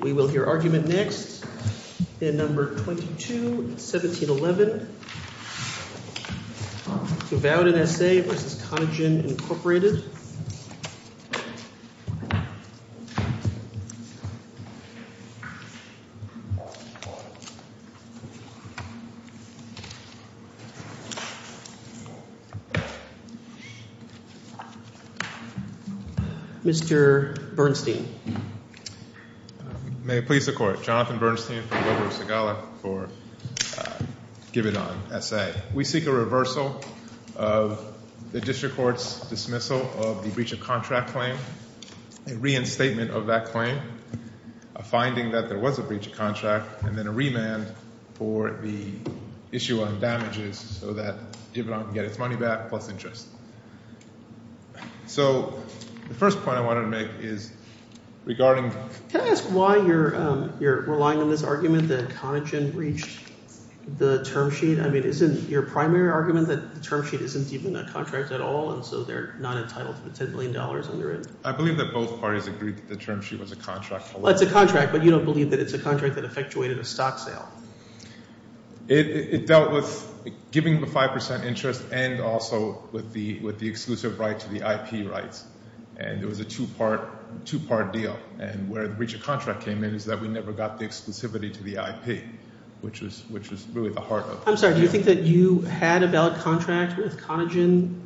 We will hear argument next in No. 22, 1711. Givaudan SA v. Conagen, Inc. Mr. Bernstein. May it please the Court. Jonathan Bernstein from Wilbur Segala for Givaudan SA. We seek a reversal of the district court's dismissal of the breach of contract claim, a reinstatement of that claim, a finding that there was a breach of contract, and then a remand for the issue on damages so that Givaudan can get its money back plus interest. So the first point I wanted to make is regarding – are you relying on this argument that Conagen breached the term sheet? I mean isn't your primary argument that the term sheet isn't even a contract at all and so they're not entitled to the $10 million under it? I believe that both parties agreed that the term sheet was a contract. Well, it's a contract, but you don't believe that it's a contract that effectuated a stock sale. It dealt with giving the 5% interest and also with the exclusive right to the IP rights, and it was a two-part deal. And where the breach of contract came in is that we never got the exclusivity to the IP, which was really the heart of it. I'm sorry. Do you think that you had a valid contract with Conagen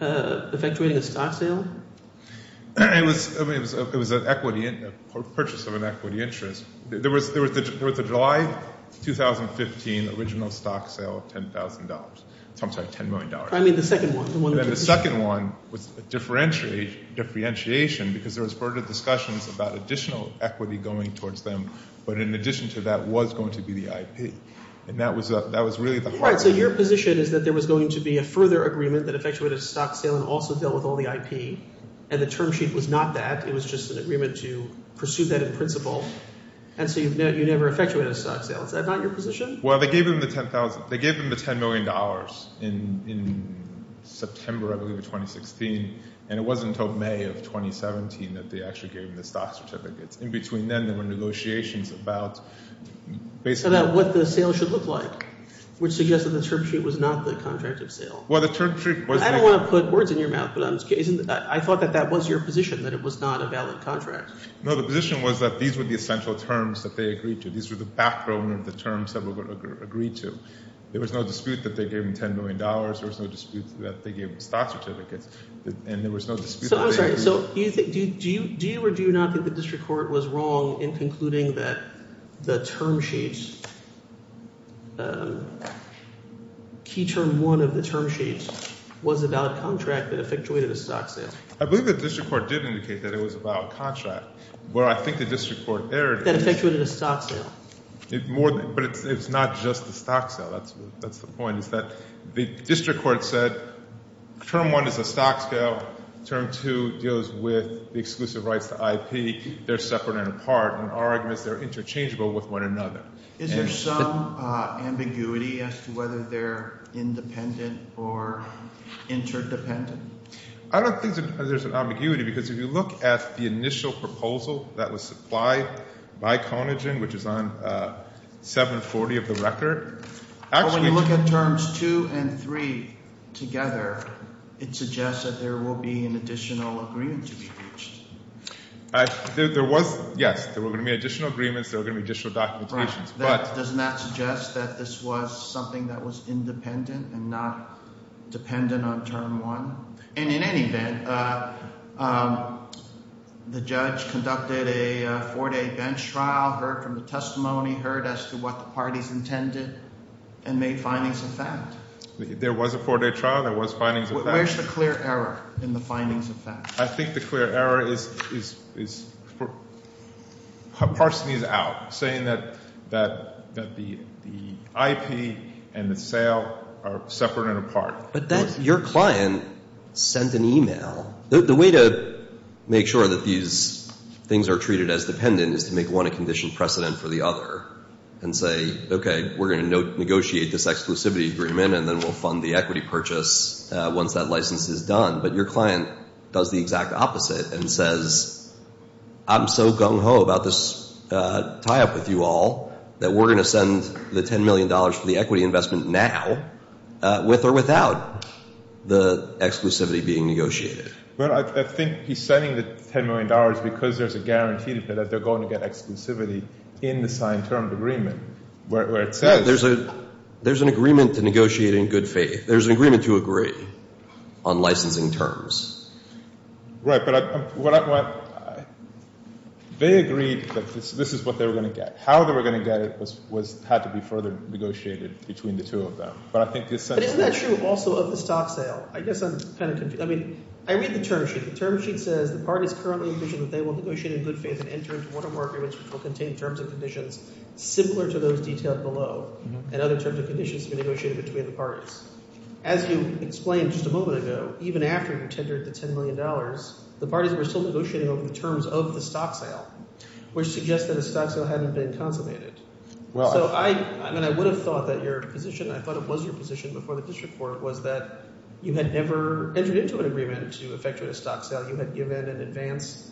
effectuating a stock sale? It was an equity – a purchase of an equity interest. There was the July 2015 original stock sale of $10,000. I'm sorry, $10 million. I mean the second one. The second one was a differentiation because there was further discussions about additional equity going towards them, but in addition to that was going to be the IP, and that was really the heart of it. So your position is that there was going to be a further agreement that effectuated a stock sale and also dealt with all the IP, and the term sheet was not that. It was just an agreement to pursue that in principle, and so you never effectuated a stock sale. Is that not your position? Well, they gave them the $10 million in September, I believe, of 2016, and it wasn't until May of 2017 that they actually gave them the stock certificates. In between then there were negotiations about basically – About what the sale should look like, which suggests that the term sheet was not the contract of sale. Well, the term sheet was – I don't want to put words in your mouth, but I thought that that was your position, that it was not a valid contract. No, the position was that these were the essential terms that they agreed to. These were the background of the terms that were agreed to. There was no dispute that they gave them $10 million. There was no dispute that they gave them stock certificates, and there was no dispute that they agreed – So I'm sorry. So do you think – do you or do you not think the district court was wrong in concluding that the term sheet – key term one of the term sheet was a valid contract that effectuated a stock sale? I believe the district court did indicate that it was a valid contract. Where I think the district court erred – That effectuated a stock sale. But it's not just a stock sale. That's the point, is that the district court said term one is a stock sale. Term two deals with the exclusive rights to IP. They're separate and apart, and our argument is they're interchangeable with one another. Is there some ambiguity as to whether they're independent or interdependent? I don't think there's an ambiguity because if you look at the initial proposal that was supplied, by Conagin, which is on 740 of the record, actually – When you look at terms two and three together, it suggests that there will be an additional agreement to be reached. There was – yes, there were going to be additional agreements. There were going to be additional documentations. But – Doesn't that suggest that this was something that was independent and not dependent on term one? And in any event, the judge conducted a four-day bench trial, heard from the testimony, heard as to what the parties intended, and made findings of fact. There was a four-day trial. There was findings of fact. Where's the clear error in the findings of fact? I think the clear error is – Parson is out, saying that the IP and the sale are separate and apart. But that – your client sent an email. The way to make sure that these things are treated as dependent is to make one a conditioned precedent for the other and say, okay, we're going to negotiate this exclusivity agreement, and then we'll fund the equity purchase once that license is done. But your client does the exact opposite and says, I'm so gung-ho about this tie-up with you all that we're going to send the $10 million for the equity investment now, with or without the exclusivity being negotiated. But I think he's sending the $10 million because there's a guarantee that they're going to get exclusivity in the signed term agreement, where it says – There's an agreement to negotiate in good faith. There's an agreement to agree on licensing terms. Right, but I – they agreed that this is what they were going to get. How they were going to get it had to be further negotiated between the two of them. But I think this – But isn't that true also of the stock sale? I guess I'm kind of – I mean I read the term sheet. The term sheet says the parties currently envision that they will negotiate in good faith and enter into one or more agreements which will contain terms and conditions similar to those detailed below and other terms and conditions to be negotiated between the parties. As you explained just a moment ago, even after you tendered the $10 million, the parties were still negotiating over the terms of the stock sale, which suggests that a stock sale hadn't been consummated. So I – I mean I would have thought that your position – I thought it was your position before the district court was that you had never entered into an agreement to effectuate a stock sale. You had given an advance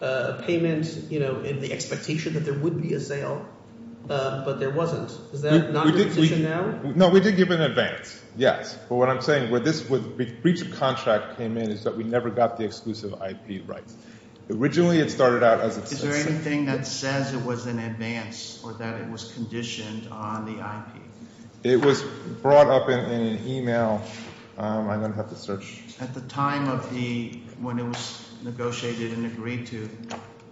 payment in the expectation that there would be a sale, but there wasn't. Is that not your position now? No, we did give an advance, yes. But what I'm saying, where this breach of contract came in is that we never got the exclusive IP rights. Originally it started out as a – Is there anything that says it was an advance or that it was conditioned on the IP? It was brought up in an email. I'm going to have to search. At the time of the – when it was negotiated and agreed to,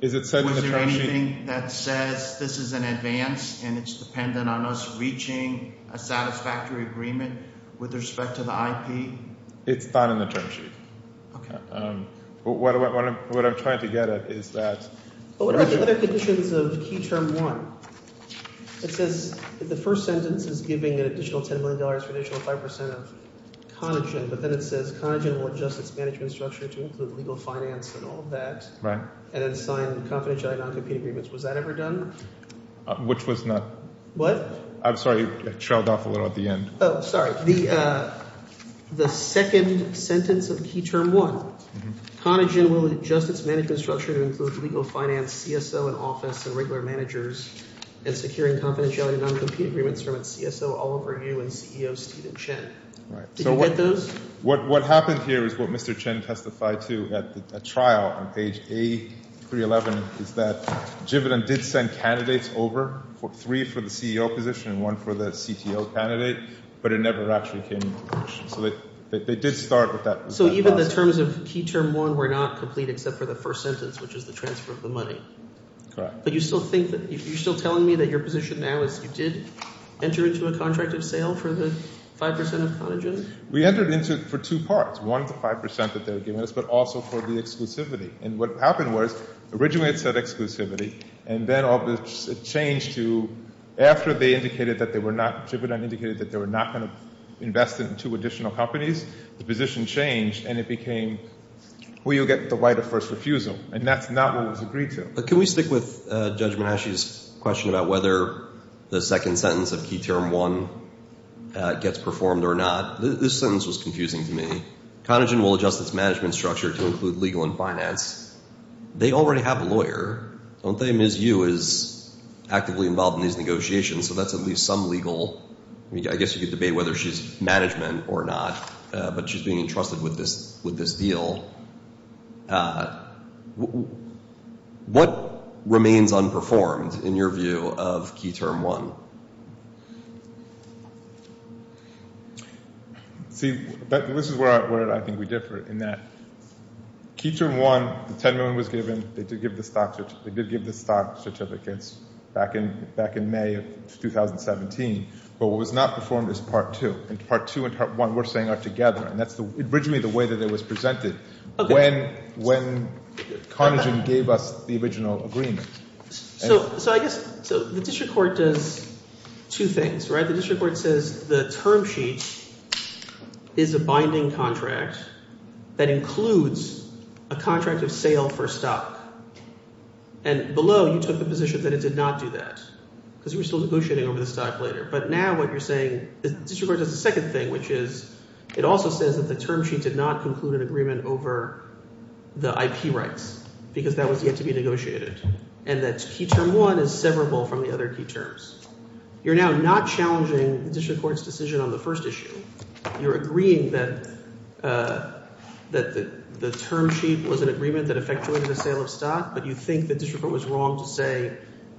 was there anything that says this is an advance and it's dependent on us reaching a satisfactory agreement with respect to the IP? It's not in the term sheet. Okay. What I'm trying to get at is that – What about the other conditions of Key Term 1? It says the first sentence is giving an additional $10 million for an additional 5% of Conagen, but then it says Conagen will adjust its management structure to include legal finance and all of that. And then sign confidentiality non-competing agreements. Was that ever done? Which was not. What? I'm sorry. I trailed off a little at the end. Oh, sorry. The second sentence of Key Term 1. Conagen will adjust its management structure to include legal finance, CSO and office, and regular managers, and securing confidentiality non-competing agreements from its CSO, Oliver Yu, and CEO Stephen Chen. Did you get those? What happened here is what Mr. Chen testified to at the trial on page A311 is that Jividen did send candidates over, three for the CEO position and one for the CTO candidate. But it never actually came to fruition. So they did start with that. So even the terms of Key Term 1 were not complete except for the first sentence, which is the transfer of the money. Correct. But you still think that you're still telling me that your position now is you did enter into a contract of sale for the 5% of Conagen? We entered into it for two parts, one for the 5% that they were giving us, but also for the exclusivity. And what happened was originally it said exclusivity, and then it changed to after they indicated that they were not Jividen, indicated that they were not going to invest in two additional companies, the position changed and it became will you get the right of first refusal? And that's not what was agreed to. Can we stick with Judge Mahashi's question about whether the second sentence of Key Term 1 gets performed or not? This sentence was confusing to me. Conagen will adjust its management structure to include legal and finance. They already have a lawyer. I won't tell you Ms. Yu is actively involved in these negotiations, so that's at least some legal. I guess you could debate whether she's management or not, but she's being entrusted with this deal. What remains unperformed in your view of Key Term 1? See, this is where I think we differ in that Key Term 1, the $10 million was given. They did give the stock certificates back in May of 2017. But what was not performed is Part 2, and Part 2 and Part 1 we're saying are together, and that's originally the way that it was presented when Conagen gave us the original agreement. So I guess the district court does two things. The district court says the term sheet is a binding contract that includes a contract of sale for stock. And below, you took the position that it did not do that because we're still negotiating over the stock later. But now what you're saying is the district court does a second thing, which is it also says that the term sheet did not conclude an agreement over the IP rights because that was yet to be negotiated. And that Key Term 1 is severable from the other key terms. You're now not challenging the district court's decision on the first issue. You're agreeing that the term sheet was an agreement that effectuated a sale of stock, but you think the district court was wrong to say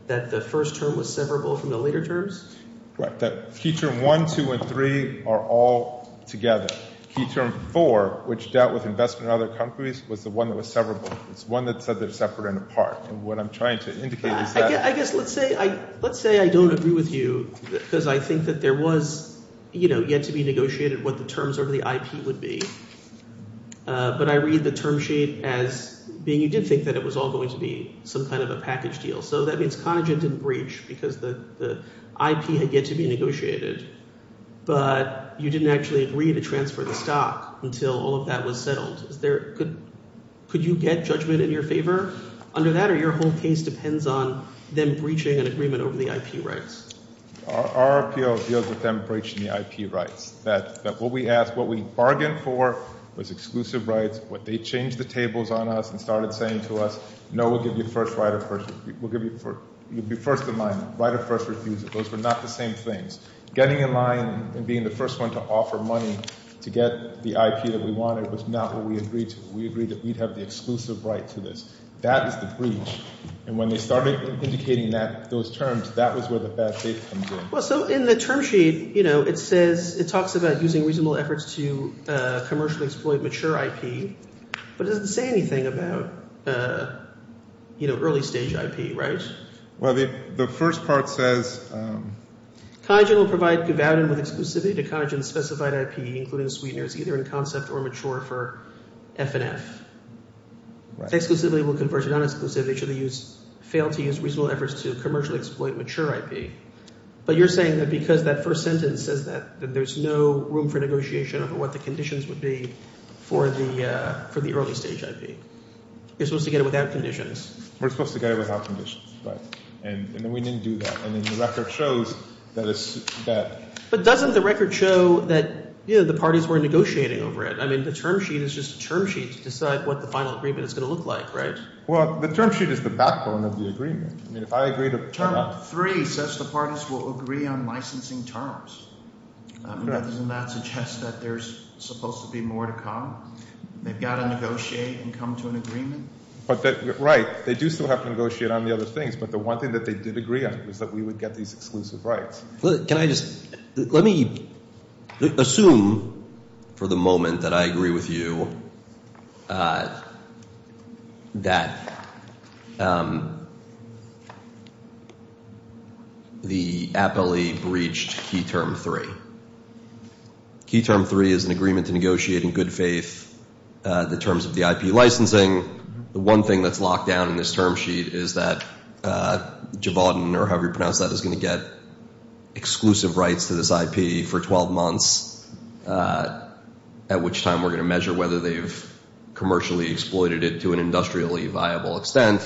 that the first term was severable from the later terms? Right. Key Term 1, 2, and 3 are all together. Key Term 4, which dealt with investment in other companies, was the one that was severable. It's one that said they're separate and apart. And what I'm trying to indicate is that- I guess let's say I don't agree with you because I think that there was yet to be negotiated what the terms over the IP would be. But I read the term sheet as being you did think that it was all going to be some kind of a package deal. So that means Conagent didn't breach because the IP had yet to be negotiated. But you didn't actually agree to transfer the stock until all of that was settled. Could you get judgment in your favor under that? Or your whole case depends on them breaching an agreement over the IP rights? Our appeal deals with them breaching the IP rights. That what we asked, what we bargained for was exclusive rights. What they changed the tables on us and started saying to us, no, we'll give you first right of first refusal. We'll give you first in line, right of first refusal. Those were not the same things. Getting in line and being the first one to offer money to get the IP that we wanted was not what we agreed to. We agreed that we'd have the exclusive right to this. That is the breach. And when they started indicating that, those terms, that was where the bad faith comes in. Well, so in the term sheet, you know, it says it talks about using reasonable efforts to commercially exploit mature IP. But it doesn't say anything about, you know, early stage IP, right? Well, the first part says. Cogent will provide good value with exclusivity to Cogent's specified IP, including sweeteners, either in concept or mature for FNF. Exclusively will convert to non-exclusive. They should fail to use reasonable efforts to commercially exploit mature IP. But you're saying that because that first sentence says that there's no room for negotiation of what the conditions would be for the early stage IP. You're supposed to get it without conditions. We're supposed to get it without conditions, right? And we didn't do that. And then the record shows that it's bad. But doesn't the record show that, you know, the parties were negotiating over it? I mean the term sheet is just a term sheet to decide what the final agreement is going to look like, right? Well, the term sheet is the backbone of the agreement. I mean if I agree to turn up. Term three says the parties will agree on licensing terms. Doesn't that suggest that there's supposed to be more to come? They've got to negotiate and come to an agreement. Right. They do still have to negotiate on the other things. But the one thing that they did agree on was that we would get these exclusive rights. Can I just – let me assume for the moment that I agree with you that the APLE breached key term three. Key term three is an agreement to negotiate in good faith the terms of the IP licensing. The one thing that's locked down in this term sheet is that Javadin, or however you pronounce that, is going to get exclusive rights to this IP for 12 months, at which time we're going to measure whether they've commercially exploited it to an industrially viable extent.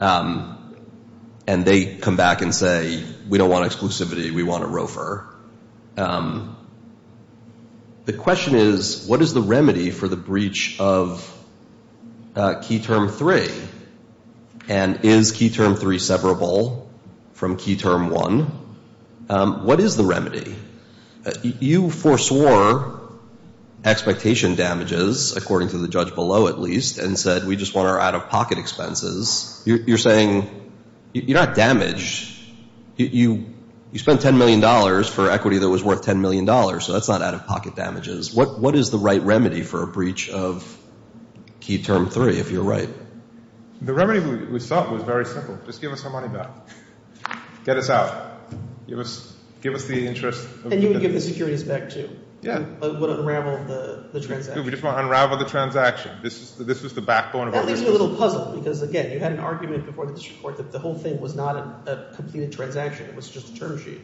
And they come back and say, we don't want exclusivity, we want a roofer. The question is, what is the remedy for the breach of key term three? And is key term three separable from key term one? What is the remedy? You foreswore expectation damages, according to the judge below at least, and said we just want our out-of-pocket expenses. You're saying – you're not damaged. You spent $10 million for equity that was worth $10 million, so that's not out-of-pocket damages. What is the right remedy for a breach of key term three, if you're right? The remedy we sought was very simple. Just give us our money back. Get us out. Give us the interest. And you would give the securities back, too. Yeah. You would unravel the transaction. That leaves me a little puzzled because, again, you had an argument before the district court that the whole thing was not a completed transaction. It was just a term sheet.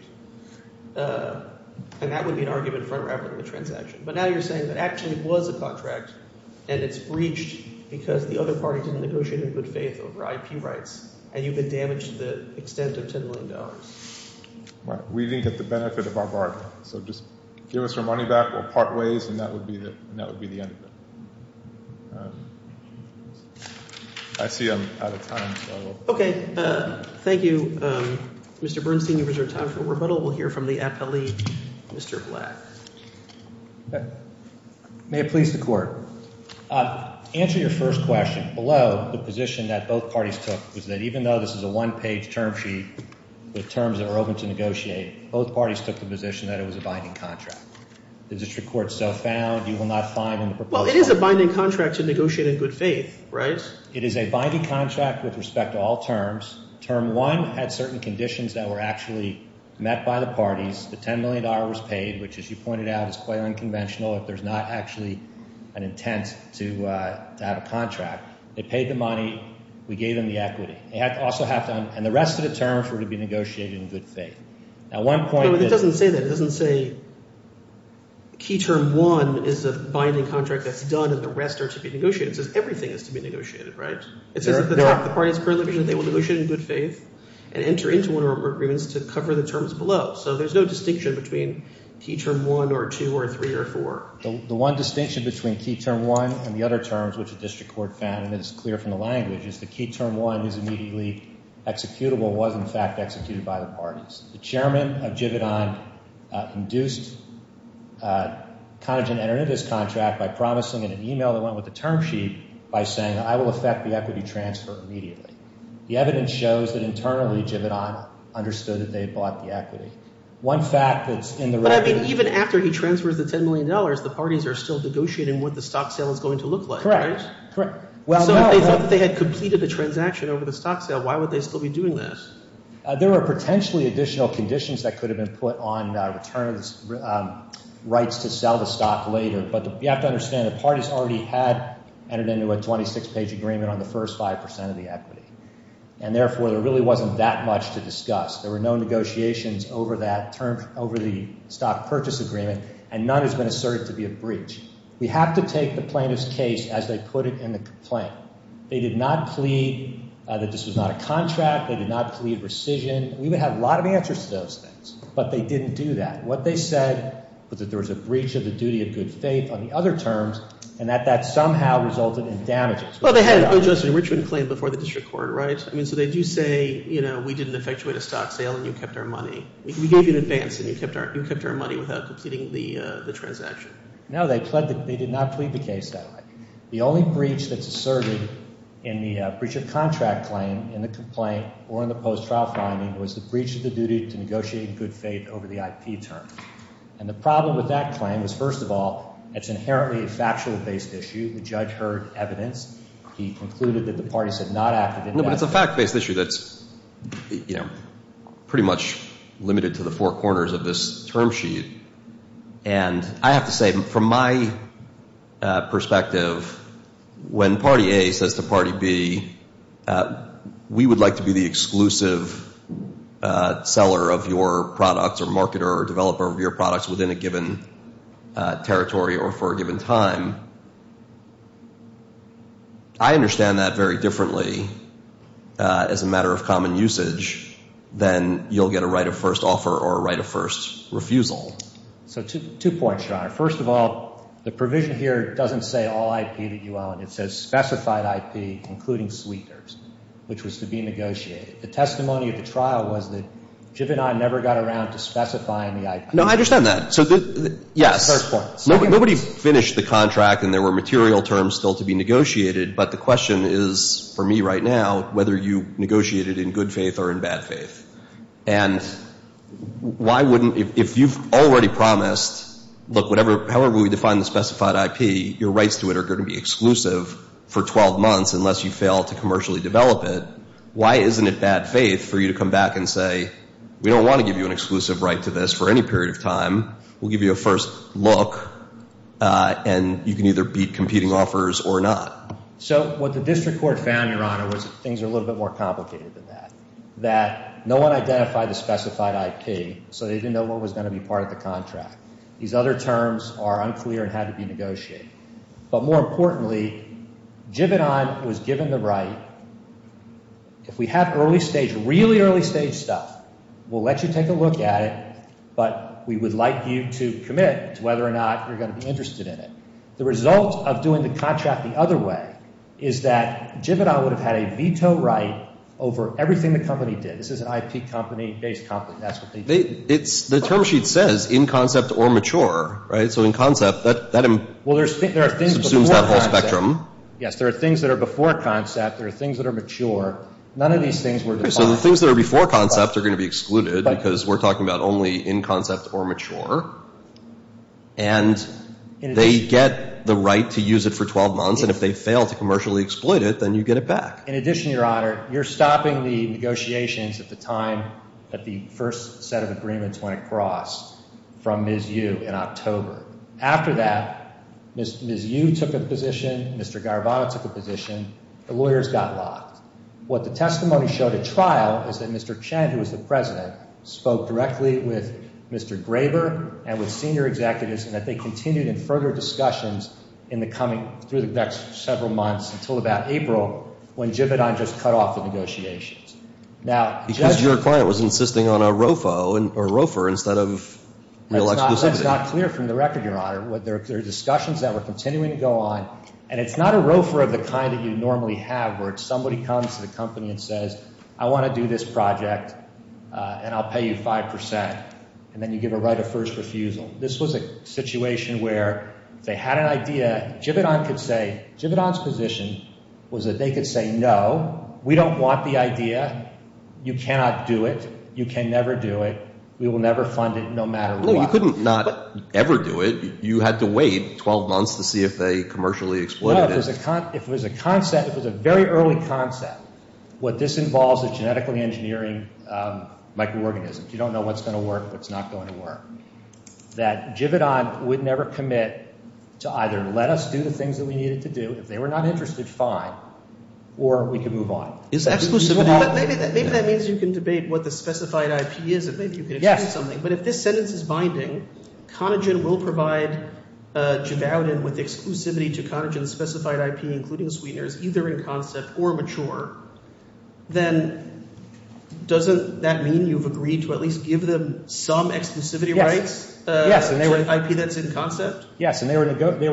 And that would be an argument for unraveling the transaction. But now you're saying that actually it was a contract, and it's breached because the other party didn't negotiate in good faith over IP rights, and you've been damaged to the extent of $10 million. We didn't get the benefit of our bargain. So just give us our money back. We'll part ways, and that would be the end of it. I see I'm out of time. Okay. Thank you. Mr. Bernstein, you reserve time for rebuttal. We'll hear from the appellee. Mr. Black. May it please the Court. Answer your first question. Below the position that both parties took was that even though this is a one-page term sheet with terms that are open to negotiate, both parties took the position that it was a binding contract. The district court so found you will not find in the proposal. Well, it is a binding contract to negotiate in good faith, right? It is a binding contract with respect to all terms. Term one had certain conditions that were actually met by the parties. The $10 million was paid, which, as you pointed out, is quite unconventional. There's not actually an intent to have a contract. They paid the money. We gave them the equity. And the rest of the terms were to be negotiated in good faith. But it doesn't say that. It doesn't say key term one is a binding contract that's done and the rest are to be negotiated. It says everything is to be negotiated, right? It says if the parties currently agree that they will negotiate in good faith and enter into one of our agreements to cover the terms below. So there's no distinction between key term one or two or three or four. The one distinction between key term one and the other terms, which the district court found that is clear from the language, is the key term one is immediately executable, was, in fact, executed by the parties. The chairman of Jividan induced Conagin to enter into this contract by promising in an email that went with the term sheet by saying, I will effect the equity transfer immediately. The evidence shows that internally Jividan understood that they bought the equity. One fact that's in the record. But, I mean, even after he transfers the $10 million, the parties are still negotiating what the stock sale is going to look like, right? Correct. So if they thought that they had completed the transaction over the stock sale, why would they still be doing this? There are potentially additional conditions that could have been put on return of rights to sell the stock later. But you have to understand the parties already had entered into a 26-page agreement on the first 5% of the equity. And, therefore, there really wasn't that much to discuss. There were no negotiations over that term, over the stock purchase agreement, and none has been asserted to be a breach. We have to take the plaintiff's case as they put it in the complaint. They did not plead that this was not a contract. They did not plead rescission. We would have a lot of answers to those things. But they didn't do that. What they said was that there was a breach of the duty of good faith on the other terms and that that somehow resulted in damages. Well, they had an adjustment claim before the district court, right? I mean, so they do say, you know, we didn't effectuate a stock sale and you kept our money. We gave you an advance and you kept our money without completing the transaction. No, they did not plead the case that way. The only breach that's asserted in the breach of contract claim in the complaint or in the post-trial finding was the breach of the duty to negotiate good faith over the IP term. And the problem with that claim was, first of all, it's inherently a factual-based issue. The judge heard evidence. He concluded that the parties had not acted in that way. No, but it's a fact-based issue that's, you know, pretty much limited to the four corners of this term sheet. And I have to say, from my perspective, when party A says to party B, we would like to be the exclusive seller of your products or marketer or developer of your products within a given territory or for a given time, I understand that very differently as a matter of common usage than you'll get a right of first offer or a right of first refusal. So two points, Your Honor. First of all, the provision here doesn't say all IP that you own. It says specified IP, including sweeteners, which was to be negotiated. The testimony of the trial was that Jivinai never got around to specifying the IP. No, I understand that. So yes. Nobody finished the contract and there were material terms still to be negotiated, but the question is for me right now whether you negotiated in good faith or in bad faith. And if you've already promised, look, however we define the specified IP, your rights to it are going to be exclusive for 12 months unless you fail to commercially develop it, why isn't it bad faith for you to come back and say, we don't want to give you an exclusive right to this for any period of time. We'll give you a first look and you can either beat competing offers or not. So what the district court found, Your Honor, was that things are a little bit more complicated than that, that no one identified the specified IP, so they didn't know what was going to be part of the contract. These other terms are unclear and had to be negotiated. But more importantly, Jivinai was given the right. If we have early stage, really early stage stuff, we'll let you take a look at it, but we would like you to commit to whether or not you're going to be interested in it. The result of doing the contract the other way is that Jivinai would have had a veto right over everything the company did. This is an IP company-based company. That's what they did. The term sheet says in concept or mature, right? So in concept, that subsumes that whole spectrum. Yes, there are things that are before concept. There are things that are mature. None of these things were defined. Okay, so the things that are before concept are going to be excluded because we're talking about only in concept or mature. And they get the right to use it for 12 months, and if they fail to commercially exploit it, then you get it back. In addition, Your Honor, you're stopping the negotiations at the time that the first set of agreements went across from Ms. Yu in October. After that, Ms. Yu took a position. Mr. Garvano took a position. The lawyers got locked. What the testimony showed at trial is that Mr. Chen, who was the president, spoke directly with Mr. Graber and with senior executives, and that they continued in further discussions in the coming – through the next several months until about April when Jivinai just cut off the negotiations. Now, Judge – Because your client was insisting on a ROFO or ROFR instead of real exclusivity. That's not clear from the record, Your Honor. There are discussions that were continuing to go on, and it's not a ROFR of the kind that you normally have where it's somebody comes to the company and says, I want to do this project, and I'll pay you 5 percent, and then you give a right of first refusal. This was a situation where if they had an idea, Jivinai could say – Jivinai's position was that they could say, no, we don't want the idea, you cannot do it, you can never do it, we will never fund it no matter what. No, you couldn't not ever do it. You had to wait 12 months to see if they commercially exploited it. If it was a concept, if it was a very early concept, what this involves is genetically engineering microorganisms. You don't know what's going to work, what's not going to work. That Jivinai would never commit to either let us do the things that we needed to do. If they were not interested, fine, or we could move on. Is that exclusivity? Maybe that means you can debate what the specified IP is and maybe you can explain something. Yes. But if this sentence is binding, Conagin will provide Jivauden with exclusivity to Conagin's specified IP, including Sweetener's, either in concept or mature. Then doesn't that mean you've agreed to at least give them some exclusivity rights to an IP that's in concept? Yes, and they were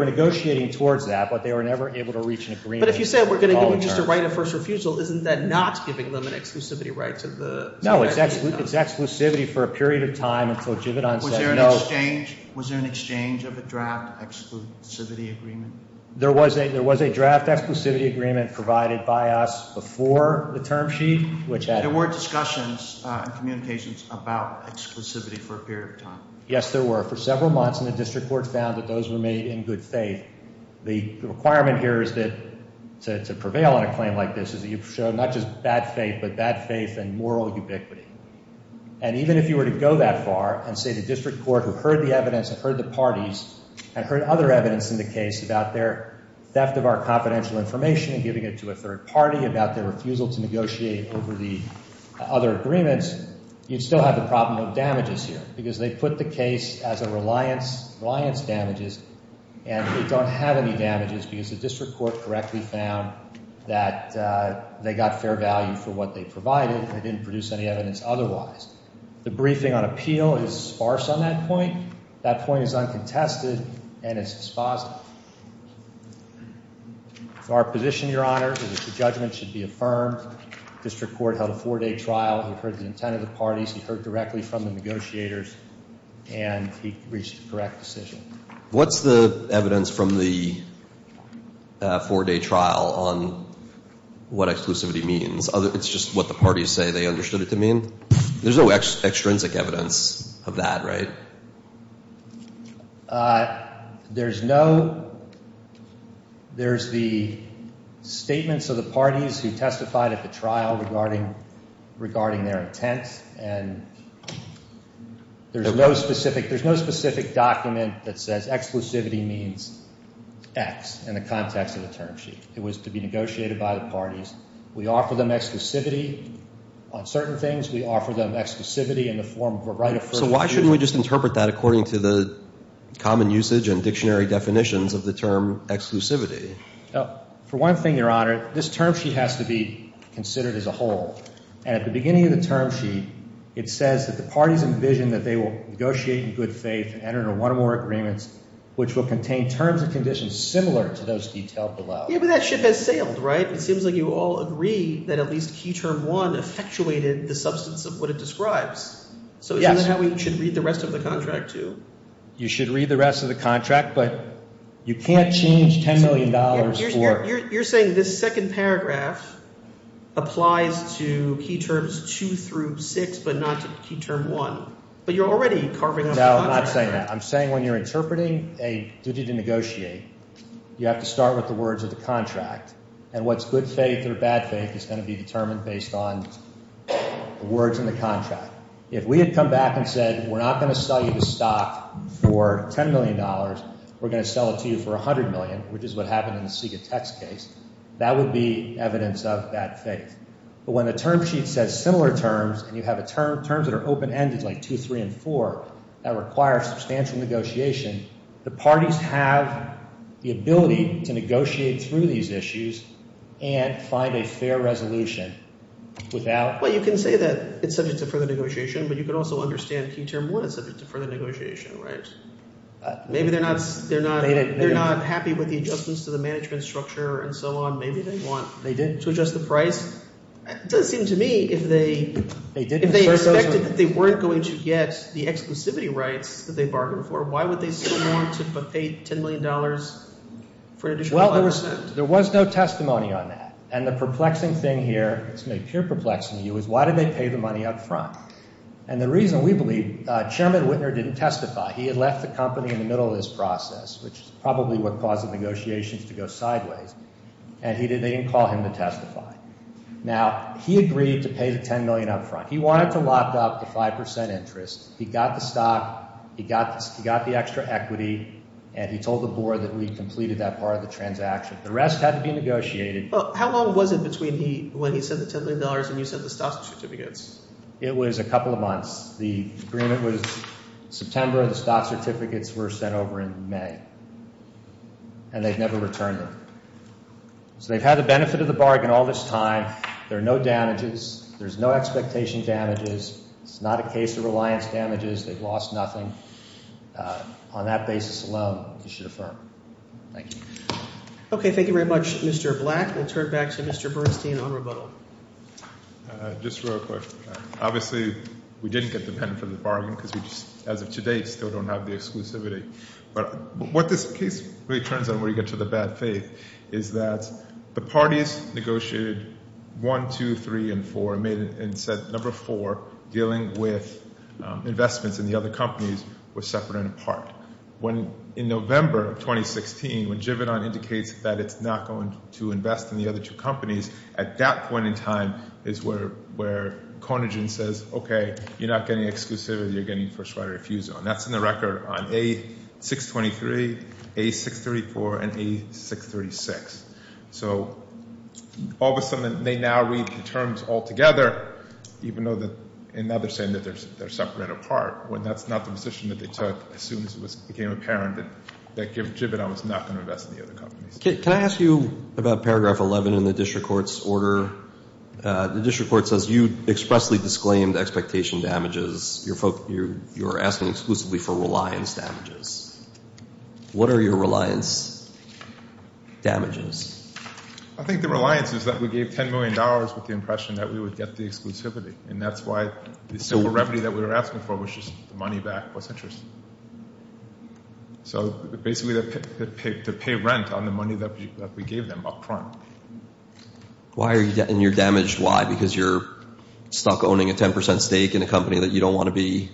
negotiating towards that, but they were never able to reach an agreement. But if you say we're going to give them just a right of first refusal, isn't that not giving them an exclusivity right to the – No, it's exclusivity for a period of time until Jivauden says no. Was there an exchange of a draft exclusivity agreement? There was a draft exclusivity agreement provided by us before the term sheet, which had – There were discussions and communications about exclusivity for a period of time. Yes, there were, for several months, and the district court found that those were made in good faith. The requirement here is that to prevail on a claim like this is that you show not just bad faith, but bad faith and moral ubiquity. And even if you were to go that far and say the district court who heard the evidence and heard the parties and heard other evidence in the case about their theft of our confidential information and giving it to a third party about their refusal to negotiate over the other agreements, you'd still have the problem of damages here because they put the case as a reliance, reliance damages, and they don't have any damages because the district court correctly found that they got fair value for what they provided and didn't produce any evidence otherwise. The briefing on appeal is sparse on that point. That point is uncontested, and it's dispositive. Our position, Your Honor, is that the judgment should be affirmed. District court held a four-day trial. He heard the intent of the parties. He heard directly from the negotiators, and he reached a correct decision. What's the evidence from the four-day trial on what exclusivity means? It's just what the parties say they understood it to mean? There's no extrinsic evidence of that, right? There's no. There's the statements of the parties who testified at the trial regarding their intent, and there's no specific document that says exclusivity means X in the context of the term sheet. It was to be negotiated by the parties. We offer them exclusivity on certain things. We offer them exclusivity in the form of a right of firm. So why shouldn't we just interpret that according to the common usage and dictionary definitions of the term exclusivity? For one thing, Your Honor, this term sheet has to be considered as a whole, and at the beginning of the term sheet, it says that the parties envision that they will negotiate in good faith and enter into one or more agreements, which will contain terms and conditions similar to those detailed below. Yeah, but that ship has sailed, right? It seems like you all agree that at least Key Term 1 effectuated the substance of what it describes. So isn't that how we should read the rest of the contract too? You should read the rest of the contract, but you can't change $10 million for— You're saying this second paragraph applies to Key Terms 2 through 6 but not to Key Term 1. But you're already carving out— No, I'm not saying that. I'm saying when you're interpreting a duty to negotiate, you have to start with the words of the contract, and what's good faith or bad faith is going to be determined based on the words in the contract. If we had come back and said we're not going to sell you the stock for $10 million, we're going to sell it to you for $100 million, which is what happened in the SIGA tax case, that would be evidence of bad faith. But when a term sheet says similar terms, and you have terms that are open-ended like 2, 3, and 4 that require substantial negotiation, the parties have the ability to negotiate through these issues and find a fair resolution without— Well, you can say that it's subject to further negotiation, but you can also understand Key Term 1 is subject to further negotiation, right? Maybe they're not happy with the adjustments to the management structure and so on. Maybe they want to adjust the price. It doesn't seem to me if they expected that they weren't going to get the exclusivity rights that they bargained for, why would they still want to pay $10 million for an additional 5%? Well, there was no testimony on that, and the perplexing thing here, it's made pure perplexing to you, is why did they pay the money up front? And the reason we believe—Chairman Whitner didn't testify. He had left the company in the middle of this process, which is probably what caused the negotiations to go sideways, and they didn't call him to testify. Now, he agreed to pay the $10 million up front. He wanted to lock up the 5% interest. He got the stock. He got the extra equity, and he told the board that we completed that part of the transaction. The rest had to be negotiated. Well, how long was it between when he said the $10 million and you said the stock certificates? It was a couple of months. The agreement was September. The stock certificates were sent over in May, and they've never returned them. So they've had the benefit of the bargain all this time. There are no damages. There's no expectation damages. It's not a case of reliance damages. They've lost nothing. On that basis alone, you should affirm. Thank you. Okay, thank you very much, Mr. Black. We'll turn it back to Mr. Bernstein on rebuttal. Just real quick. Obviously, we didn't get the benefit of the bargain because we just, as of today, still don't have the exclusivity. But what this case really turns on when you get to the bad faith is that the parties negotiated 1, 2, 3, and 4 and said number 4, dealing with investments in the other companies, were separate and apart. In November of 2016, when Givenon indicates that it's not going to invest in the other two companies, at that point in time is where Carnegie says, okay, you're not getting exclusivity. You're getting first right refusal. And that's in the record on A623, A634, and A636. So all of a sudden, they now read the terms all together, even though now they're saying that they're separate and apart, when that's not the position that they took as soon as it became apparent that Givenon was not going to invest in the other companies. Can I ask you about paragraph 11 in the district court's order? The district court says you expressly disclaimed expectation damages. You're asking exclusively for reliance damages. What are your reliance damages? I think the reliance is that we gave $10 million with the impression that we would get the exclusivity, and that's why the simple remedy that we were asking for was just the money back was interesting. So basically to pay rent on the money that we gave them up front. And you're damaged why? Because you're stuck owning a 10% stake in a company that you don't want to be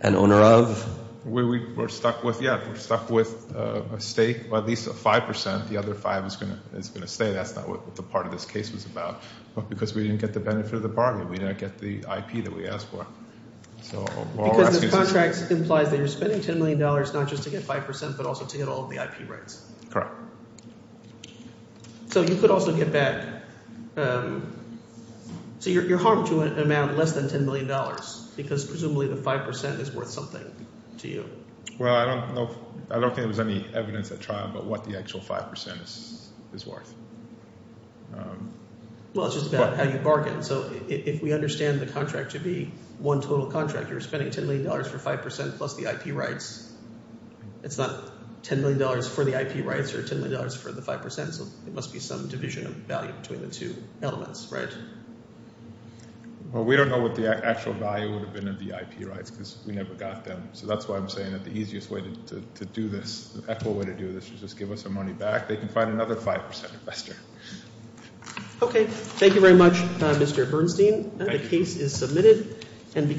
an owner of? Yeah, we're stuck with a stake, at least a 5%. The other 5% is going to stay. That's not what the part of this case was about. But because we didn't get the benefit of the bargain. We didn't get the IP that we asked for. Because the contract implies that you're spending $10 million not just to get 5% but also to get all of the IP rights. Correct. So you could also get back – so you're harmed to amount less than $10 million because presumably the 5% is worth something to you. Well, I don't think there was any evidence at trial about what the actual 5% is worth. Well, it's just about how you bargain. So if we understand the contract to be one total contract, you're spending $10 million for 5% plus the IP rights. It's not $10 million for the IP rights or $10 million for the 5%. So there must be some division of value between the two elements, right? Well, we don't know what the actual value would have been of the IP rights because we never got them. So that's why I'm saying that the easiest way to do this, the best way to do this is just give us our money back. They can find another 5% investor. Okay. Thank you very much, Mr. Bernstein. The case is submitted.